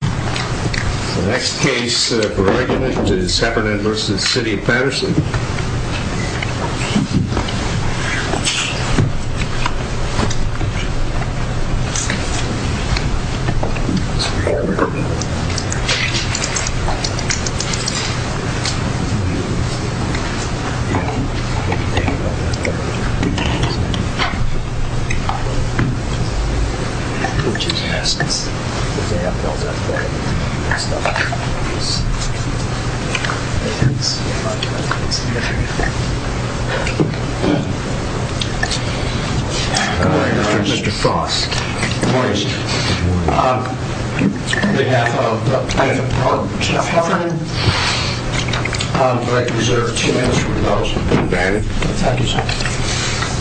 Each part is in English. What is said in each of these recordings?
The next case for argument is Heffernan v. City of Patterson.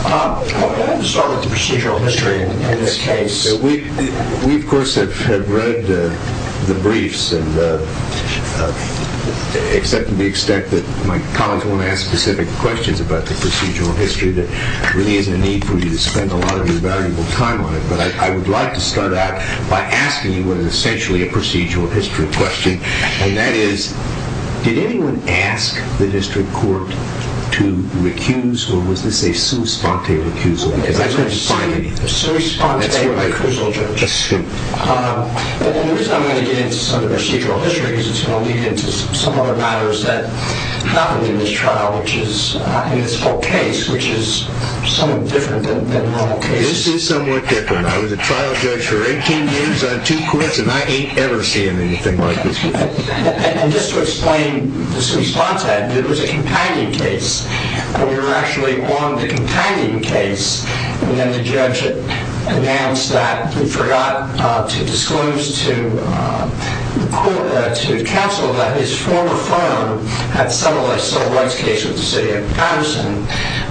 I'm going to start with the procedural history of this case. We, of course, have read the briefs, except to the extent that my colleagues won't ask specific questions about the procedural history. There really isn't a need for you to spend a lot of your valuable time on it. But I would like to start out by asking you what is essentially a procedural history question. And that is, did anyone ask the district court to recuse or was this a sous-sponte recusal? The reason I'm going to get into some of the procedural history is it's going to lead into some other matters that happen in this trial, in this whole case, which is somewhat different than normal cases. This is somewhat different. I was a trial judge for 18 years on two courts, and I ain't ever seen anything like this before. And just to explain the sous-sponte, it was a companion case. We were actually on the companion case, and then the judge announced that he forgot to disclose to counsel that his former firm had settled a civil rights case with the City of Patterson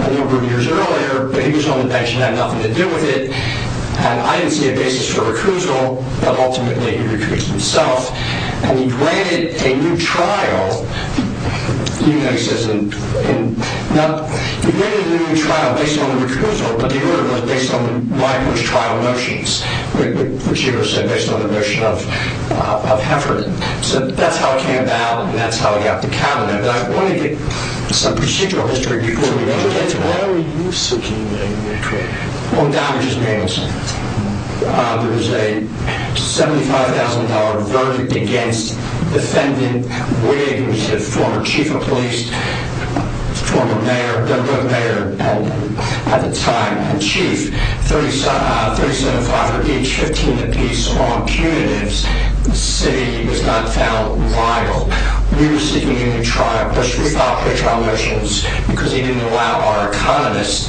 a number of years earlier, but he was on the bench and had nothing to do with it. And I didn't see a basis for recusal, but ultimately he recused himself, and he granted a new trial. Now, he granted a new trial based on the recusal, but the order was based on the language trial notions, which he would have said based on the notion of Heffernan. So that's how it came about, and that's how he got the cabinet. But I want to get some procedural history before we ever get to that. Why were you seeking a new trial? Well, I'm not going to just answer that. There was a $75,000 verdict against defendant Wigg, who was the former chief of police, former mayor, then mayor, and at the time a chief. $375,000 a piece, $15,000 a piece on punitives. The city was not found liable. We were seeking a new trial, but we thought the trial notions, because he didn't allow our economists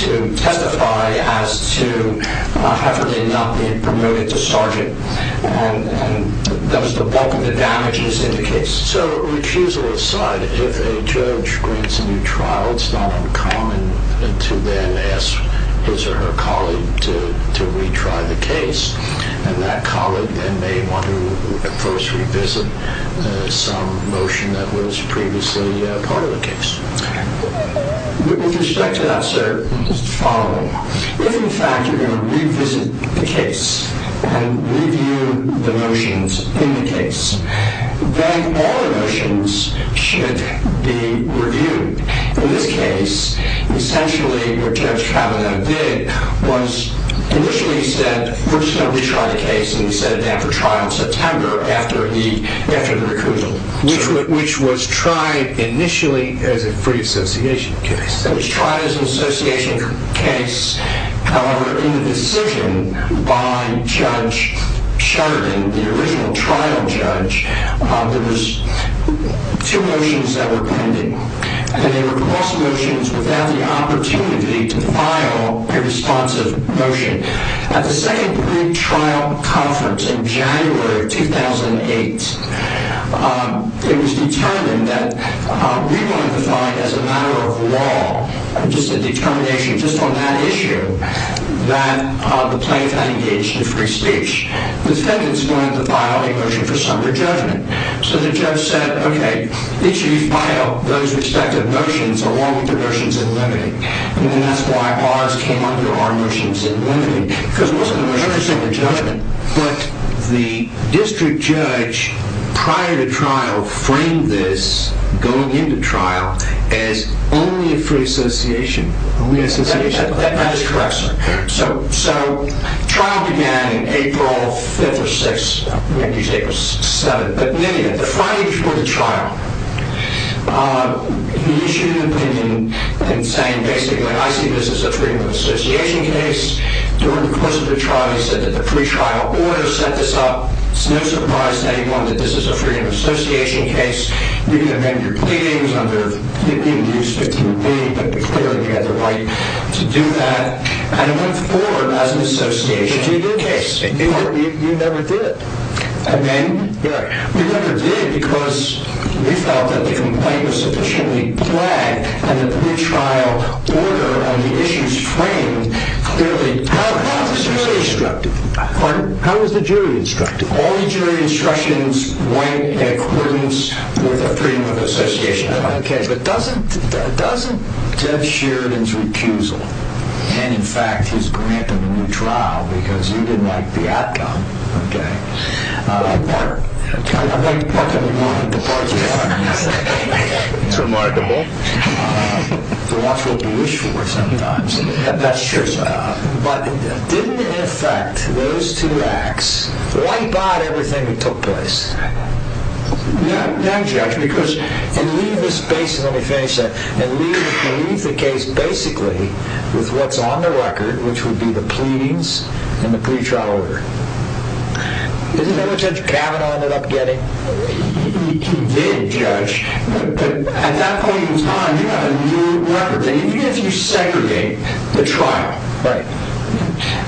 to testify as to Heffernan not being promoted to sergeant, and that was the bulk of the damages in the case. So recusal aside, if a judge grants a new trial, it's not uncommon to then ask his or her colleague to retry the case, and that colleague then may want to first revisit some motion that was previously part of the case. With respect to that, sir, the following. If, in fact, you're going to revisit the case and review the motions in the case, then all the motions should be reviewed. In this case, essentially what Judge Kavanaugh did was initially said, we're just going to retry the case, and he set it down for trial in September after the recusal. Which was tried initially as a free association case. That was tried as an association case. However, in the decision by Judge Sheridan, the original trial judge, there was two motions that were pending, and they were cross motions without the opportunity to file a responsive motion. At the second pre-trial conference in January of 2008, it was determined that we wanted to find as a matter of law, just a determination just on that issue, that the plaintiff had engaged in free speech. The defendants wanted to file a motion for somber judgment. So the judge said, okay, each of you file those respective motions along with the motions in limited. And that's why ours came under our motions in limited. Because it wasn't a motion for somber judgment. But the district judge, prior to trial, framed this, going into trial, as only a free association. Only an association. That is correct, sir. So trial began in April 5th or 6th, maybe it was 7th. But in any event, the Friday before the trial, he issued an opinion in saying, basically, I see this as a free association case. During the course of the trial, he said that the pre-trial order set this up. It's no surprise to anyone that this is a free association case. You can amend your claims under, you didn't use 15B, but clearly you had the right to do that. And it went forward as an association case. You never did. Amending? Yeah. You never did because you felt that the complaint was sufficiently flagged in the pre-trial order and the issues framed clearly. How was the jury instructed? Pardon? How was the jury instructed? All the jury instructions went in accordance with the freedom of association. Okay. But doesn't, doesn't Jeff Sheridan's recusal, and in fact his grant of a new trial, because you didn't like the outcome, okay, It's remarkable. The watch will be wished for sometimes. That's true. But didn't, in effect, those two acts wipe out everything that took place? No, Judge, because And leave the space, let me finish that, and leave the case, basically, with what's on the record, which would be the pleadings and the pre-trial order. Isn't that what Judge Kavanaugh ended up getting? He did, Judge. But at that point in time, you have a new record, and even if you segregate the trial,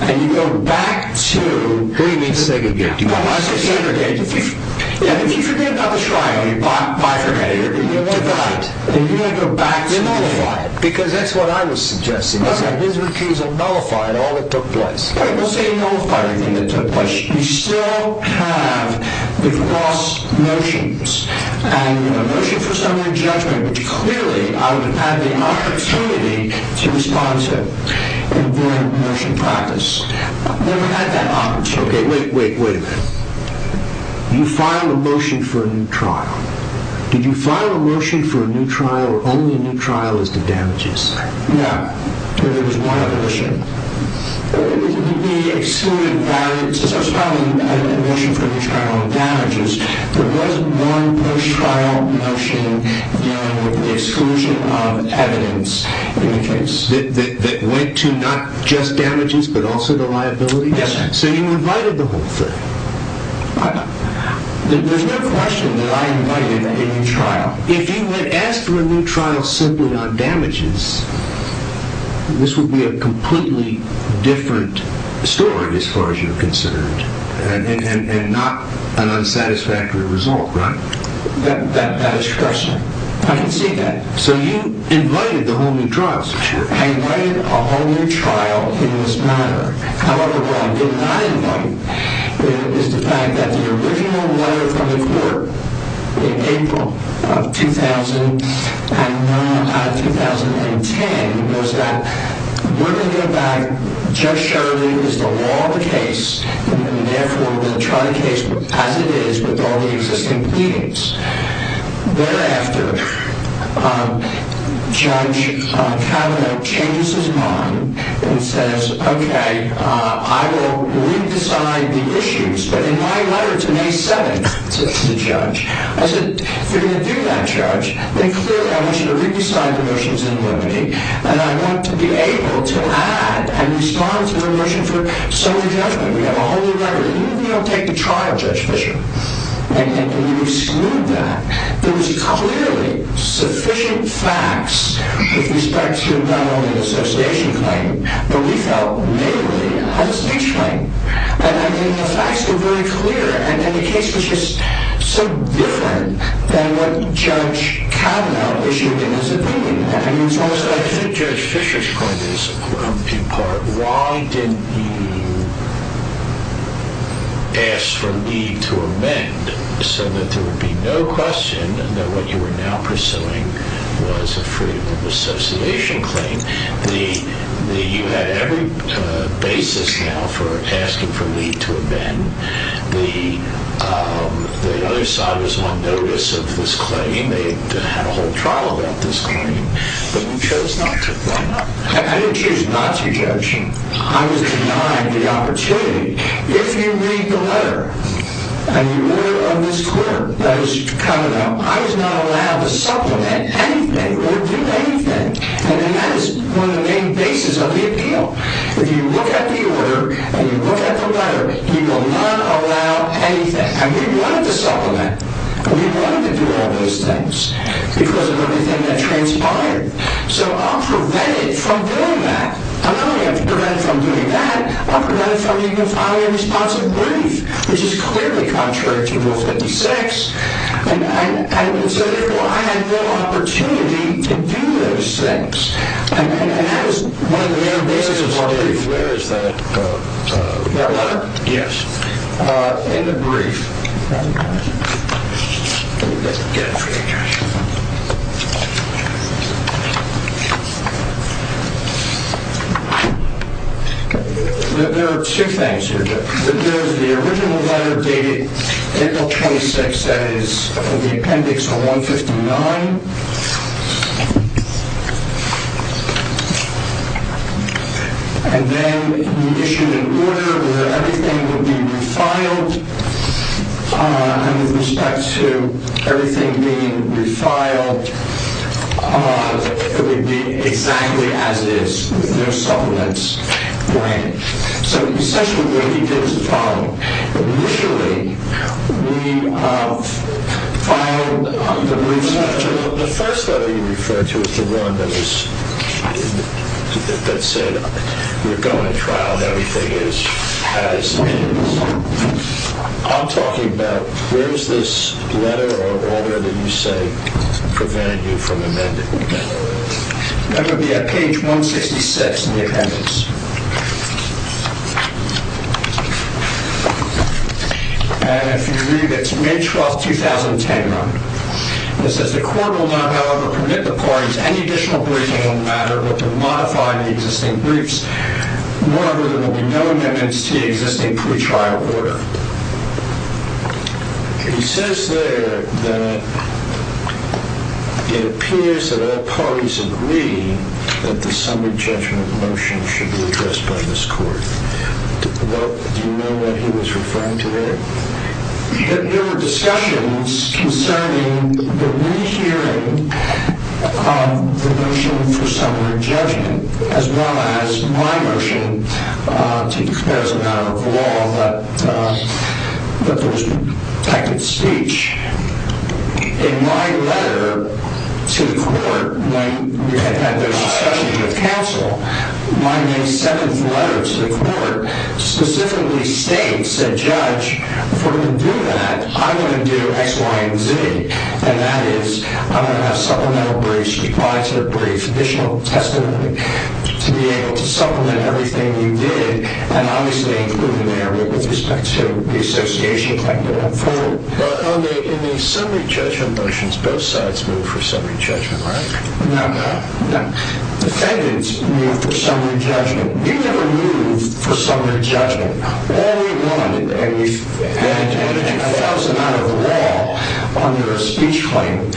and you go back to What do you mean, segregate? If you forget about the trial, you bifurcate it, you divide it, you nullify it. Because that's what I was suggesting, is that his recusal nullified all that took place. Well, it won't say nullify anything that took place. You still have the cross-motions, and a motion for summary judgment, which clearly, I would have had the opportunity to respond to in void of motion practice. I've never had that opportunity. Okay, wait, wait, wait a minute. You filed a motion for a new trial. Did you file a motion for a new trial, or only a new trial as to damages? No, there was one motion. We excluded violence. I was filing a motion for a new trial on damages. There was one post-trial motion dealing with the exclusion of evidence in the case. That went to not just damages, but also the liabilities? Yes, sir. So you invited the whole thing. There's no question that I invited a new trial. If you had asked for a new trial simply on damages, this would be a completely different story, as far as you're concerned, and not an unsatisfactory result, right? That is correct, sir. I can see that. So you invited the whole new trial. I invited a whole new trial in this manner. However, what I did not invite is the fact that the original letter from the court in April of 2010 was that we're going to go back. Judge Shirley is the law of the case, and therefore we're going to try the case as it is with all the existing pleadings. Thereafter, Judge Kavanaugh changes his mind and says, OK, I will re-decide the issues. But in my letter to May 7th, to the judge, I said, if you're going to do that, judge, then clearly I want you to re-decide the motions in limitee. And I want to be able to add and respond to the motion for some adjustment. We have a whole new letter. Even if we don't take the trial, Judge Fisher. And you exclude that. There was clearly sufficient facts with respect to not only the association claim, but we felt literally a speech claim. And the facts were very clear. And the case was just so different than what Judge Kavanaugh issued in his opinion. I think Judge Fisher's point is, in part, why didn't you ask for leave to amend so that there would be no question that what you were now pursuing was a freedom of association claim? You had every basis now for asking for leave to amend. The other side was on notice of this claim. They had a whole trial about this claim. But you chose not to. I didn't choose not to, Judge. I was denied the opportunity. If you read the letter and you look at this quip that is coming up, I was not allowed to supplement anything or do anything. And that is one of the main bases of the appeal. If you look at the order and you look at the letter, you will not allow anything. And we wanted to supplement. We wanted to do all those things because of everything that transpired. So I'm prevented from doing that. I'm not only prevented from doing that, I'm prevented from even filing a responsive brief, which is clearly contrary to Rule 56. And so therefore, I had no opportunity to do those things. And that was one of the main bases of my brief. Where is that letter? Yes. In the brief. Let me get it for you, Judge. There are two things here, Judge. There is the original letter dated April 26, that is, from the appendix 159. And then he issued an order that everything would be refiled. And with respect to everything being refiled, it would be exactly as it is, with no supplements. So essentially what he did was the following. Initially, we filed the brief. The first letter you referred to is the one that said we're going to trial and everything is as it is. I'm talking about where is this letter or order that you say prevented you from amending it? That would be at page 166 in the appendix. And if you read it, it's May 12, 2010. It says the court will not, however, permit the parties any additional briefing on the matter, but will modify the existing briefs. Moreover, there will be no amendments to the existing pretrial order. He says there that it appears that all parties agree that the summary judgment motion should be addressed by this court. Do you know what he was referring to there? There were discussions concerning the rehearing of the motion for summary judgment, as well as my motion to express a matter of law that there was protected speech. In my letter to the court, when we had those discussions with counsel, my May 7th letter to the court specifically states that, Judge, for him to do that, I'm going to do X, Y, and Z. And that is I'm going to have supplemental briefs, replacement briefs, additional testimony, to be able to supplement everything you did, and obviously include an area with respect to the association claim going forward. In the summary judgment motions, both sides moved for summary judgment, right? No, no. No. Defendants moved for summary judgment. We never moved for summary judgment. All we wanted, and we had a few thousand out of the law under a speech claim,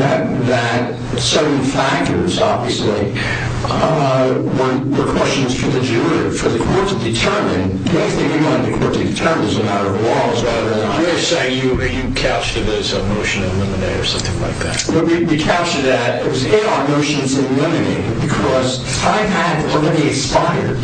that certain factors, obviously, were questions for the juror, for the court to determine. I don't think you wanted the court to determine as a matter of law. You're saying you captured it as a motion to eliminate or something like that. We captured that. It was in our motions to eliminate it, because I had already expired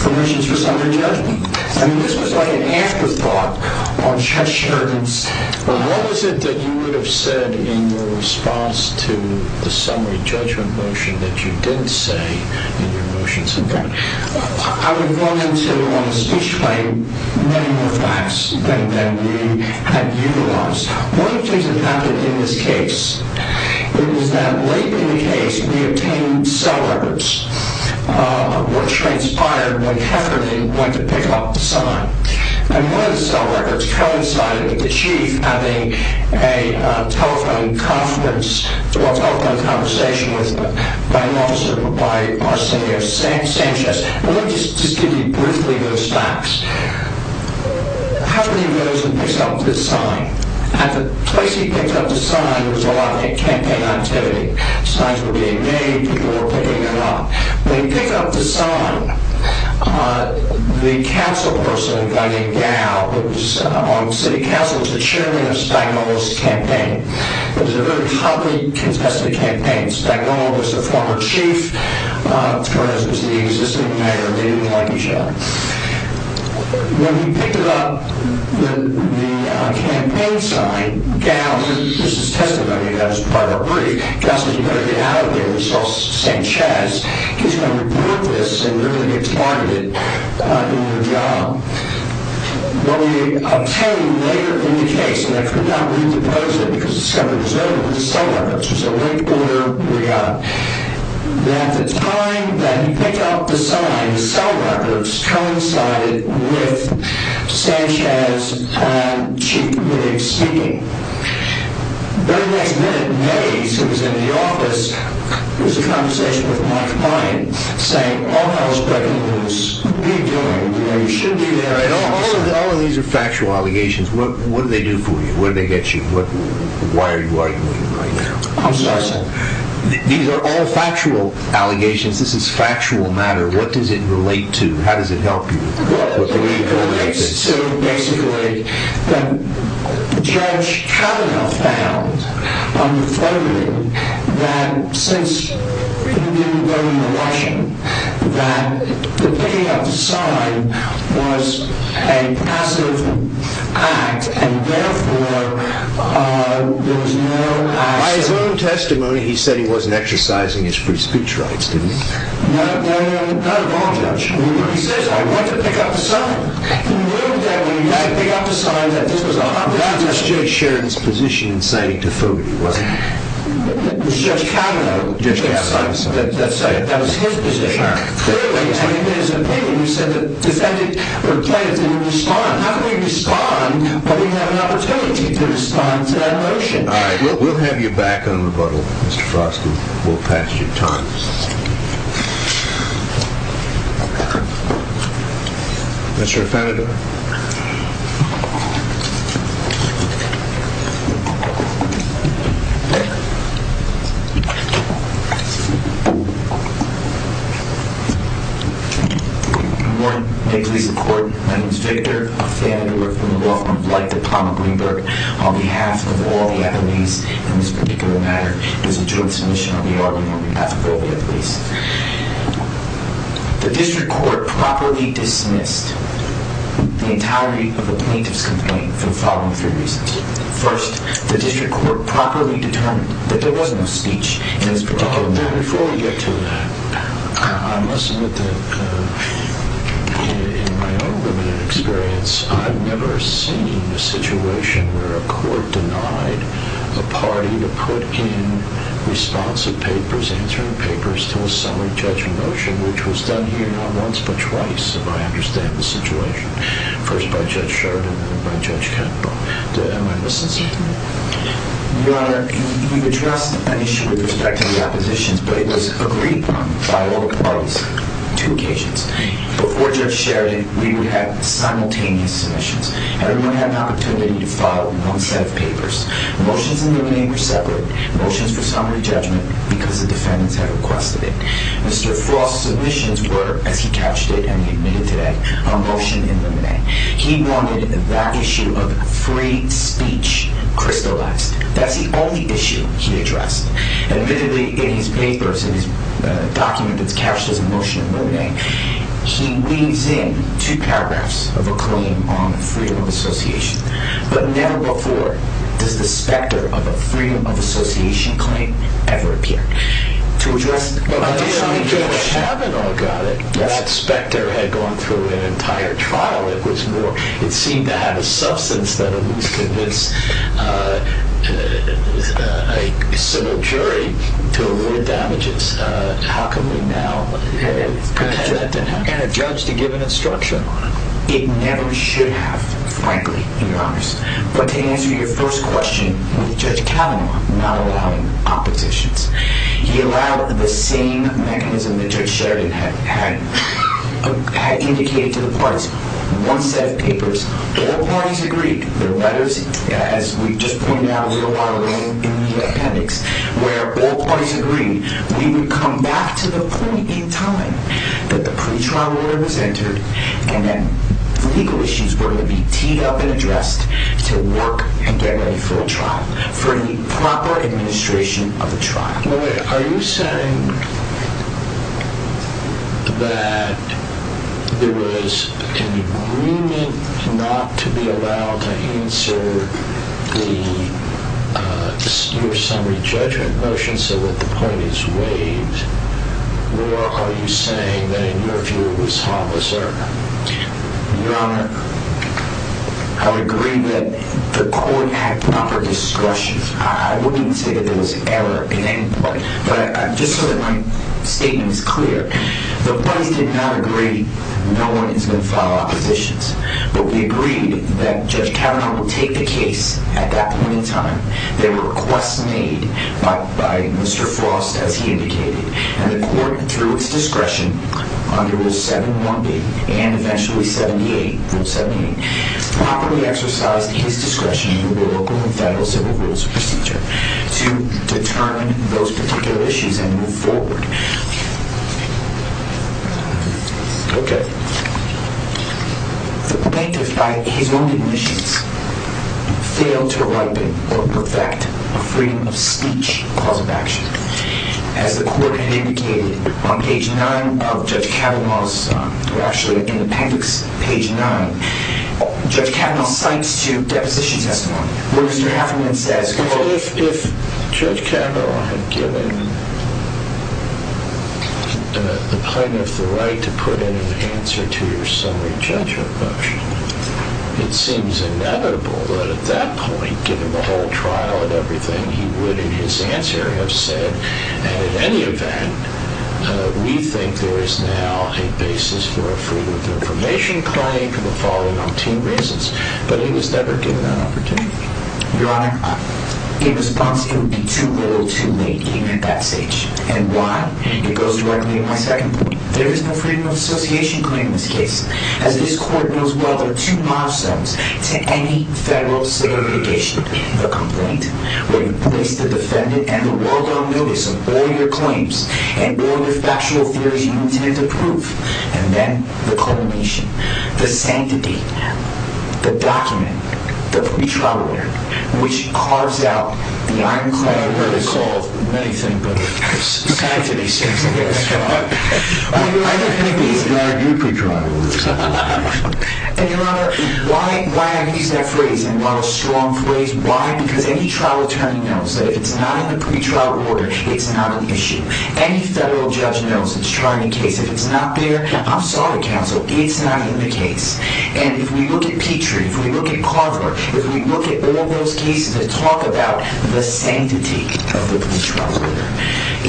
permissions for summary judgment. I mean, this was like an afterthought on Chess Sherman's... Well, what was it that you would have said in your response to the summary judgment motion that you didn't say in your motions? Okay. I would run into, on the speech claim, many more facts than we had utilized. One of the things that happened in this case was that late in the case, we obtained cell records of what transpired, what happened, and when to pick up the sign. And one of the cell records coincided with the chief having a telephone conference or telephone conversation with an officer by Arsenio Sanchez. Let me just give you briefly those facts. How many of those had picked up this sign? At the place he picked up the sign, there was a lot of campaign activity. Signs were being made. People were picking them up. When he picked up the sign, the council person, a guy named Gao, who was on city council, was the chairman of Spagnuolo's campaign. It was a very hotly contested campaign. Spagnuolo was the former chief. Torres was the existing mayor. They didn't like each other. When he picked up the campaign sign, Gao, this is testimony. That was part of a brief. We saw Sanchez. He was going to report this and literally get targeted in the job. What we obtained later in the case, and I could not read the post-it because it was going to be preserved, but the cell records. It was a late order. We got it. At the time that he picked up the sign, the cell records coincided with Sanchez and chief speaking. The very next minute, Mays, who was in the office, was in conversation with my client, saying all hell is breaking loose. What are you doing? You should be there. All of these are factual allegations. What did they do for you? What did they get you? Why are you arguing right now? I'm sorry, sir. These are all factual allegations. This is factual matter. What does it relate to? How does it help you? It relates to, basically, that Judge Kavanaugh found on the phone that since he didn't go to the washing, that the picking up the sign was a passive act, and therefore there was no action. By his own testimony, he said he wasn't exercising his free speech rights, didn't he? No, not at all, Judge. He says, I went to pick up the sign. In the room there, when he went to pick up the sign, that this was a haphazard action. That was Judge Sharon's position in saying to Foley, wasn't it? It was Judge Kavanaugh. Judge Kavanaugh's position. That was his position. Clearly, in his opinion, he said that defending the plaintiff didn't respond. How can we respond when we have an opportunity to respond to that motion? All right. We'll have you back on rebuttal, Mr. Frosky. We'll pass your time. Mr. Affanado. Good morning. May it please the Court, my name is Victor Affanado. We're from the Law Firm of Life at Palmer Greenberg. On behalf of all the attorneys in this particular matter, there's a joint submission on the argument in behalf of all the attorneys. The District Court properly dismissed the entirety of the plaintiff's complaint for the following three reasons. First, the District Court properly determined that there was no speech in this particular matter. Before we get to that, I must admit that in my own limited experience, I've never seen a situation where a court denied a party to put in responsive papers, answering papers to a summary judgment motion, which was done here not once but twice, if I understand the situation. First by Judge Sheridan and then by Judge Capito. Am I missing something? Your Honor, you've addressed the issue with respect to the oppositions, but it was agreed upon by all the parties on two occasions. Before Judge Sheridan, we would have simultaneous submissions. Everyone had an opportunity to file in one set of papers. Motions in the domain were separate. Motions for summary judgment because the defendants had requested it. Mr. Frost's submissions were, as he captioned it and he admitted today, a motion in limine. He wanted that issue of free speech crystallized. That's the only issue he addressed. Admittedly, in his papers, in his document that's captioned as a motion in limine, he leaves in two paragraphs of a claim on freedom of association. But never before does the specter of a freedom of association claim ever appear. To address the issue of free speech. I haven't all got it. That specter had gone through an entire trial. It seemed to have a substance that at least convinced a civil jury to award damages. How can we now pretend that didn't happen? And a judge to give an instruction on it. It never should have, frankly, Your Honor. But to answer your first question with Judge Kavanaugh not allowing oppositions. He allowed the same mechanism that Judge Sheridan had indicated to the parties. One set of papers. All parties agreed. The letters, as we just pointed out, were a lot of rain in the appendix. Where all parties agreed. We would come back to the point in time that the pretrial order was entered and that legal issues were going to be teed up and addressed to work and get ready for a trial. For the proper administration of a trial. Are you saying that there was an agreement not to be allowed to answer your summary judgment motion? So that the point is waived. Where are you saying that in your view it was harmless error? Your Honor, I would agree that the court had proper discretion. I wouldn't say that there was error in any way. But just so that my statement is clear. The parties did not agree. No one is going to file oppositions. But we agreed that Judge Kavanaugh would take the case at that point in time. There were requests made by Mr. Frost, as he indicated. And the court, through its discretion, under Rule 7-1b and eventually Rule 78, properly exercised his discretion in the local and federal civil rules procedure to determine those particular issues and move forward. Okay. The plaintiff, by his own admissions, failed to ripen or perfect a freedom of speech cause of action. As the court had indicated on page 9 of Judge Kavanaugh's, or actually in the panfix, page 9, Judge Kavanaugh cites to deposition testimony. Where Mr. Heffernan says, If Judge Kavanaugh had given the plaintiff the right to put in an answer to your summary judgment motion, it seems inevitable that at that point, given the whole trial and everything, he would, in his answer, have said, and in any event, we think there is now a basis for a freedom of information claim for the following 19 reasons. But he was never given that opportunity. Your Honor, in response, it would be too little, too late, even at that stage. And why? It goes directly to my second point. There is no freedom of association claim in this case. As this court knows well, there are two milestones to any federal civil litigation. The complaint, where you place the defendant and the world on notice of all your claims and all your factual theories you intend to prove. And then, the culmination. The sanctity. The document. The pretrial order. Which carves out the ironclad vertical of, many think, the sanctity sense of this trial. I don't think these are your pretrial orders. And, Your Honor, why I'm using that phrase, and what a strong phrase, why? Because any trial attorney knows that if it's not in the pretrial order, it's not an issue. Any federal judge knows it's a trial case. If it's not there, I'm sorry, counsel, it's not in the case. And if we look at Petrie, if we look at Carver, if we look at all those cases that talk about the sanctity of the pretrial order,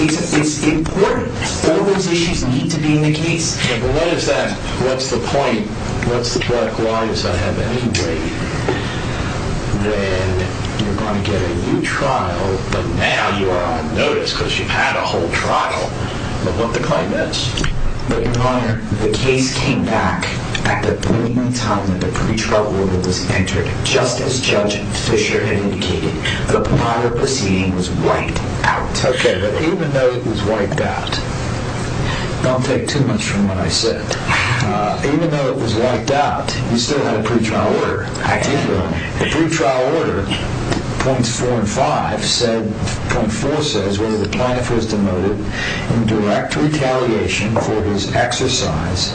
it's important. All those issues need to be in the case. But what is that? What's the point? What's the point? Why does that have any weight? When you're going to get a new trial, but now you are on notice because you've had a whole trial. But what the claim is? But, Your Honor, the case came back at the point in time that the pretrial order was entered. Just as Judge Fisher had indicated, the prior proceeding was wiped out. Okay, but even though it was wiped out, don't take too much from what I said, even though it was wiped out, you still had a pretrial order. I did, Your Honor. The pretrial order, points four and five, point four says whether the plaintiff was demoted in direct retaliation for his exercise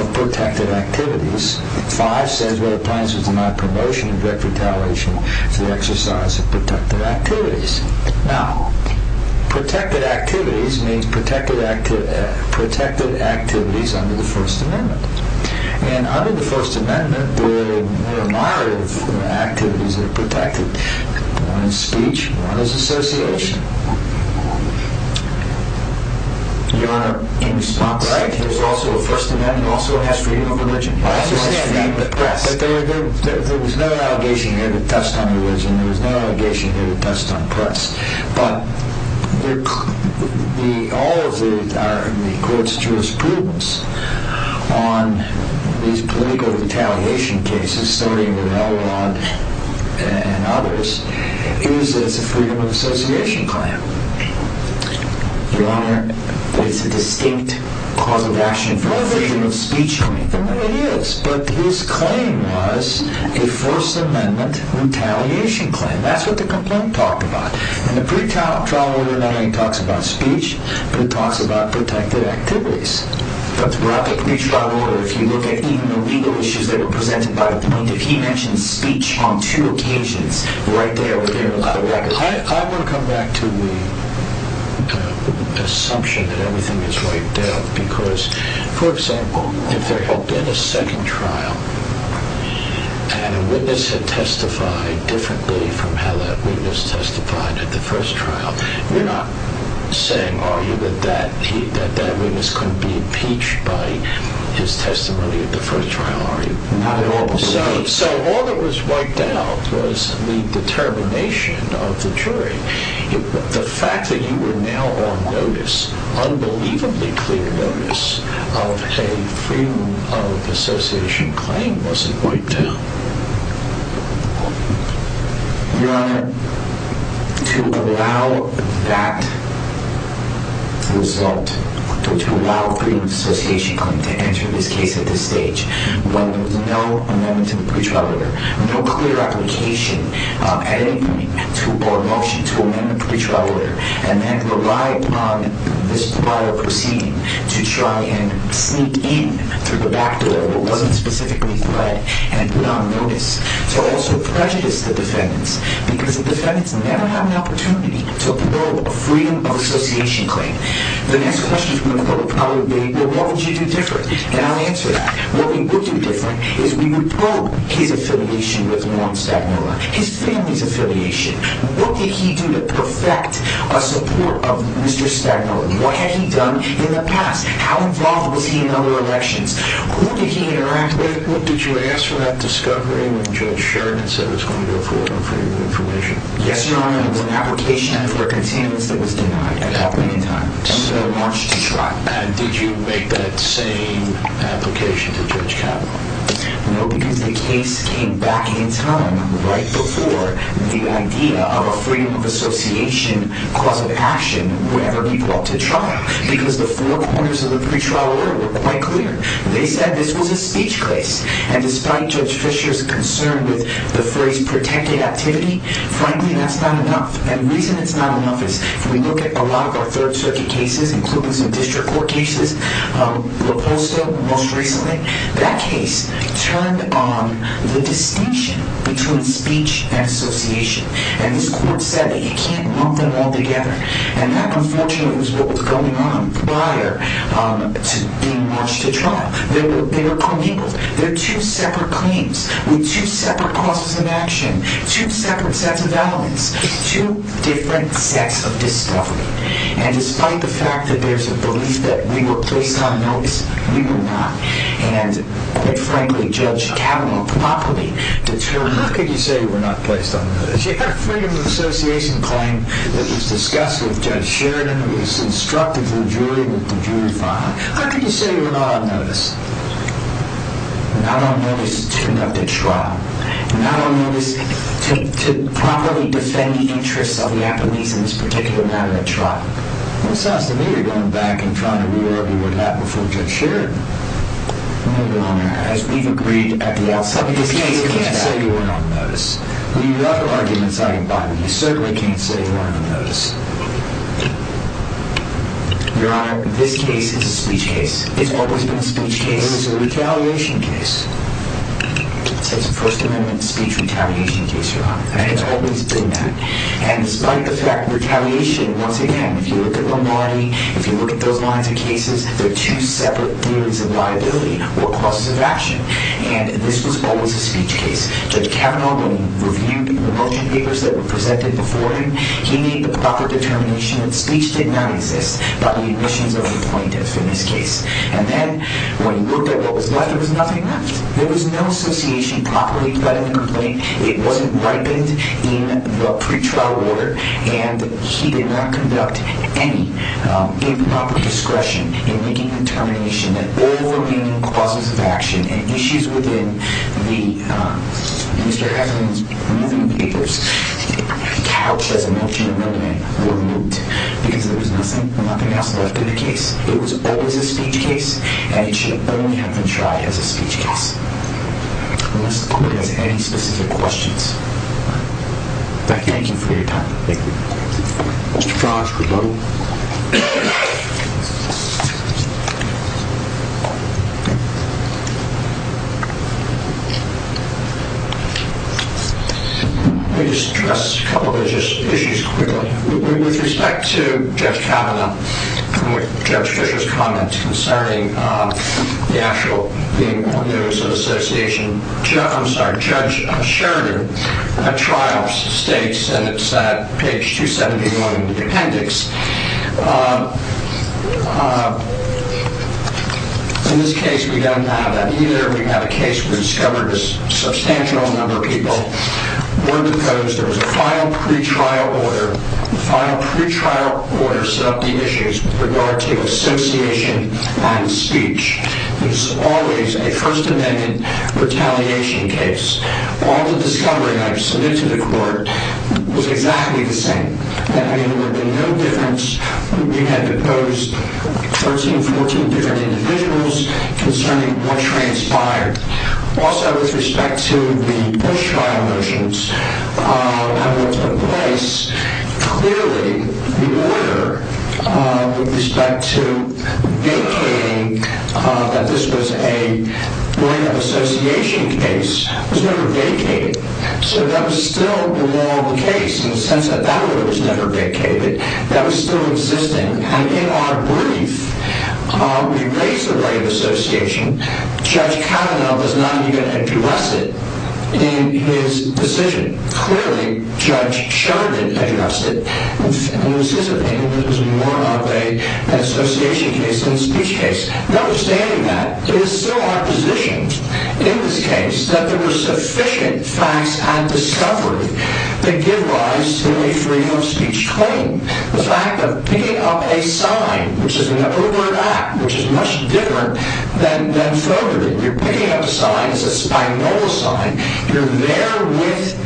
of protected activities. Five says whether the plaintiff was denied promotion in direct retaliation for the exercise of protected activities. Now, protected activities means protected activities under the First Amendment. And under the First Amendment, there are a number of activities that are protected. One is speech, one is association. Your Honor, in response to that, the First Amendment also has freedom of religion. I understand that, but press. There was no allegation here to test on religion. There was no allegation here to test on press. But all of the court's jurisprudence on these political retaliation cases, starting with Elrod and others, is that it's a freedom of association claim. Your Honor, it's a distinct cause of action for the freedom of speech claim. It is, but his claim was a First Amendment retaliation claim. And that's what the complaint talked about. And the pre-trial order not only talks about speech, but it talks about protected activities. But throughout the pre-trial order, if you look at even the legal issues that are presented by the plaintiff, he mentions speech on two occasions right there. I want to come back to the assumption that everything is wiped out. Because, for example, if there had been a second trial and a witness had testified differently from how that witness testified at the first trial, you're not saying, are you, that that witness couldn't be impeached by his testimony at the first trial, are you? Not at all. So all that was wiped out was the determination of the jury. The fact that you were now on notice, unbelievably clear notice, of a freedom of association claim wasn't wiped out. Your Honor, to allow that result, to allow a freedom of association claim to enter this case at this stage, when there was no amendment to the pre-trial order, no clear application at any point or motion to amend the pre-trial order, and then rely upon this trial proceeding to try and sneak in through the back door where it wasn't specifically fled and put on notice, to also prejudice the defendants, because the defendants never have an opportunity to probe a freedom of association claim. The next question from the public probably will be, well, what would you do differently? And I'll answer that. What we would do differently is we would probe his affiliation with Lorne Stagnola, his family's affiliation. What did he do to perfect a support of Mr. Stagnola? What had he done in the past? How involved was he in other elections? Who did he interact with? What did you ask for that discovery when Judge Sherman said it was going to go forward on freedom of information? Yes, Your Honor, it was an application for a containment that was denied at that point in time. And we launched the trial. And did you make that same application to Judge Kavanaugh? No, because the case came back in time right before the idea of a freedom of association, cause of action, whatever people ought to try, because the four corners of the pretrial order were quite clear. They said this was a speech case. And despite Judge Fisher's concern with the phrase protected activity, frankly, that's not enough. And the reason it's not enough is if we look at a lot of our Third Circuit cases, including some district court cases, LaPosta most recently, that case turned on the distinction between speech and association. And this court said that you can't lump them all together. And that, unfortunately, was what was going on prior to being launched at trial. There were two separate claims with two separate causes of action, two separate sets of elements, two different sets of discovery. And despite the fact that there's a belief that we were placed on notice, we were not. And, quite frankly, Judge Kavanaugh properly determined that. Well, how can you say we're not placed on notice? You had a freedom of association claim that was discussed with Judge Sheridan, who instructed the jury with the jury file. How can you say we're not on notice? Not on notice to conduct a trial. Not on notice to properly defend the interests of the Japanese in this particular matter at trial. Well, it sounds to me you're going back and trying to reword the word that before Judge Sheridan. No, Your Honor, as we've agreed at the outset of this case, you can't say we're not on notice. We've had our arguments out in public. You certainly can't say we're not on notice. Your Honor, this case is a speech case. It's always been a speech case. It was a retaliation case. It's a First Amendment speech retaliation case, Your Honor. And it's always been that. And despite the fact of retaliation, once again, if you look at Lamarty, if you look at those lines of cases, they're two separate theories of liability or causes of action. And this was always a speech case. Judge Kavanaugh, when he reviewed the motion papers that were presented before him, he made the proper determination that speech did not exist by the admissions of the plaintiffs in this case. And then when he looked at what was left, there was nothing left. There was no association properly, but in the complaint, it wasn't ripened in the pretrial order, and he did not conduct any improper discretion in making the determination that all remaining causes of action and issues within Mr. Heffernan's moving papers couched as a motion amendment were removed because there was nothing else left in the case. It was always a speech case, and it should only have been tried as a speech case. Unless the committee has any specific questions. Thank you for your time. Thank you. Mr. Frosch, rebuttal. Let me just address a couple of issues quickly. With respect to Judge Kavanaugh and Judge Fischer's comments concerning the actual being on the notice of association, Judge Sheridan at trial states, and it's at page 271 in the appendix. In this case, we don't have that either. We have a case where we discovered a substantial number of people were deposed. There was a final pretrial order. The final pretrial order set up the issues with regard to association and speech. It was always a First Amendment retaliation case. All the discovery I submitted to the court was exactly the same. That means there would be no difference. We had deposed 13, 14 different individuals concerning what transpired. Also, with respect to the Bush trial motions, and what took place, clearly the order with respect to vacating that this was a right of association case was never vacated. That was still the law of the case in the sense that that order was never vacated. That was still existing. In our brief, we raised the right of association. Judge Kavanaugh does not even address it in his decision. Clearly, Judge Sheridan addressed it, and it was his opinion that it was more of an association case than a speech case. Notwithstanding that, it is still our position in this case that there were sufficient facts and discovery that give rise to a freedom of speech claim. The fact of picking up a sign, which is an overt act, which is much different than filtering. You're picking up a sign. It's a Spagnola sign. You're there with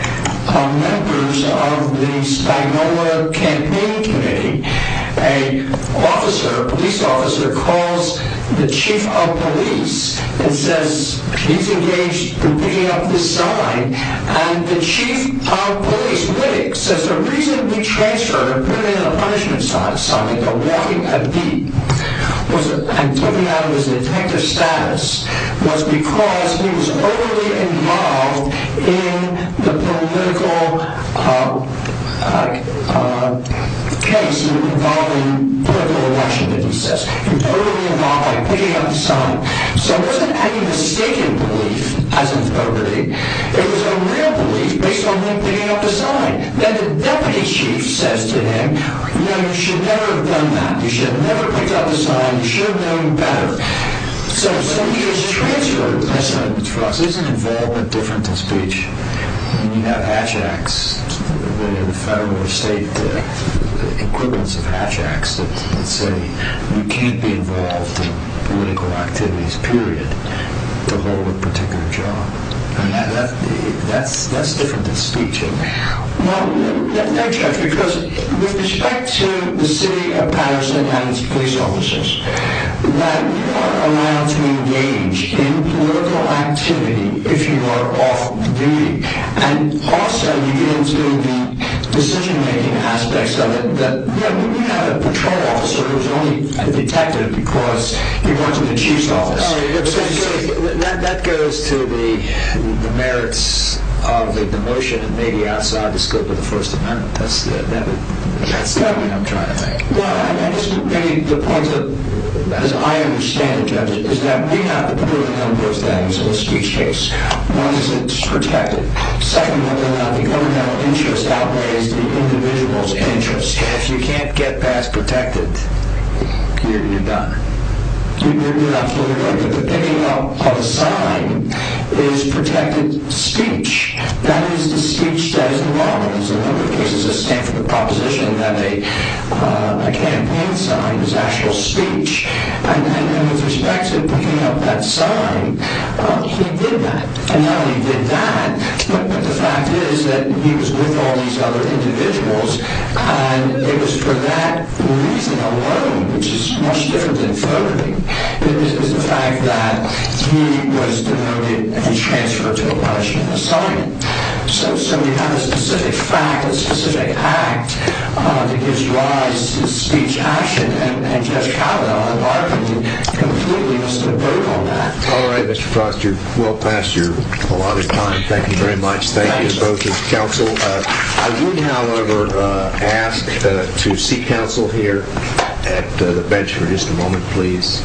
members of the Spagnola campaign committee. A police officer calls the chief of police and says, he's engaged in picking up this sign, and the chief of police, Whittock, says, there's a reason we transferred a punishment sign, a walking FD, and took him out of his detective status, was because he was overly involved in the political case involving political election, that he says. He was overly involved by picking up the sign. So it wasn't any mistaken belief as in overtly. It was a real belief based on him picking up the sign. Now, the deputy chief says to him, no, you should never have done that. You should have never picked up the sign. You should have known better. So he was transferred the punishment sign. But for us, isn't involvement different than speech? When you have Hatch Acts, the federal or state equivalents of Hatch Acts that say, you can't be involved in political activities, period, to hold a particular job. I mean, that's different than speech. Well, thanks, Judge, because with respect to the city of Patterson and its police officers, that you are allowed to engage in political activity if you are off duty. And also, you get into the decision-making aspects of it, that when you have a patrol officer who's only a detective because he works with the chief's office. That goes to the merits of the motion and maybe outside the scope of the First Amendment. That's the argument I'm trying to make. Well, I just would make the point that, as I understand it, Judge, is that we have to prove those things in a speech case. One is that it's protected. Second, whether or not the criminal interest outweighs the individual's interest. And if you can't get past protected, you're done. You're not fully protected. But picking up a sign is protected speech. That is the speech that is the law. In a number of cases, a Stanford proposition that a campaign sign was actual speech. And with respect to picking up that sign, he did that. And not only did that, but the fact is that he was with all these other individuals. And it was for that reason alone, which is much different than photography, is the fact that he was denoted and transferred to a punishment assignment. So we have a specific fact, a specific act, that gives rise to speech action. And Judge Kavanaugh, I'm arguing, completely missed the boat on that. All right, Mr. Foster. Well past your allotted time. Thank you very much. Thank you both as counsel. I would, however, ask to seek counsel here at the bench for just a moment, please.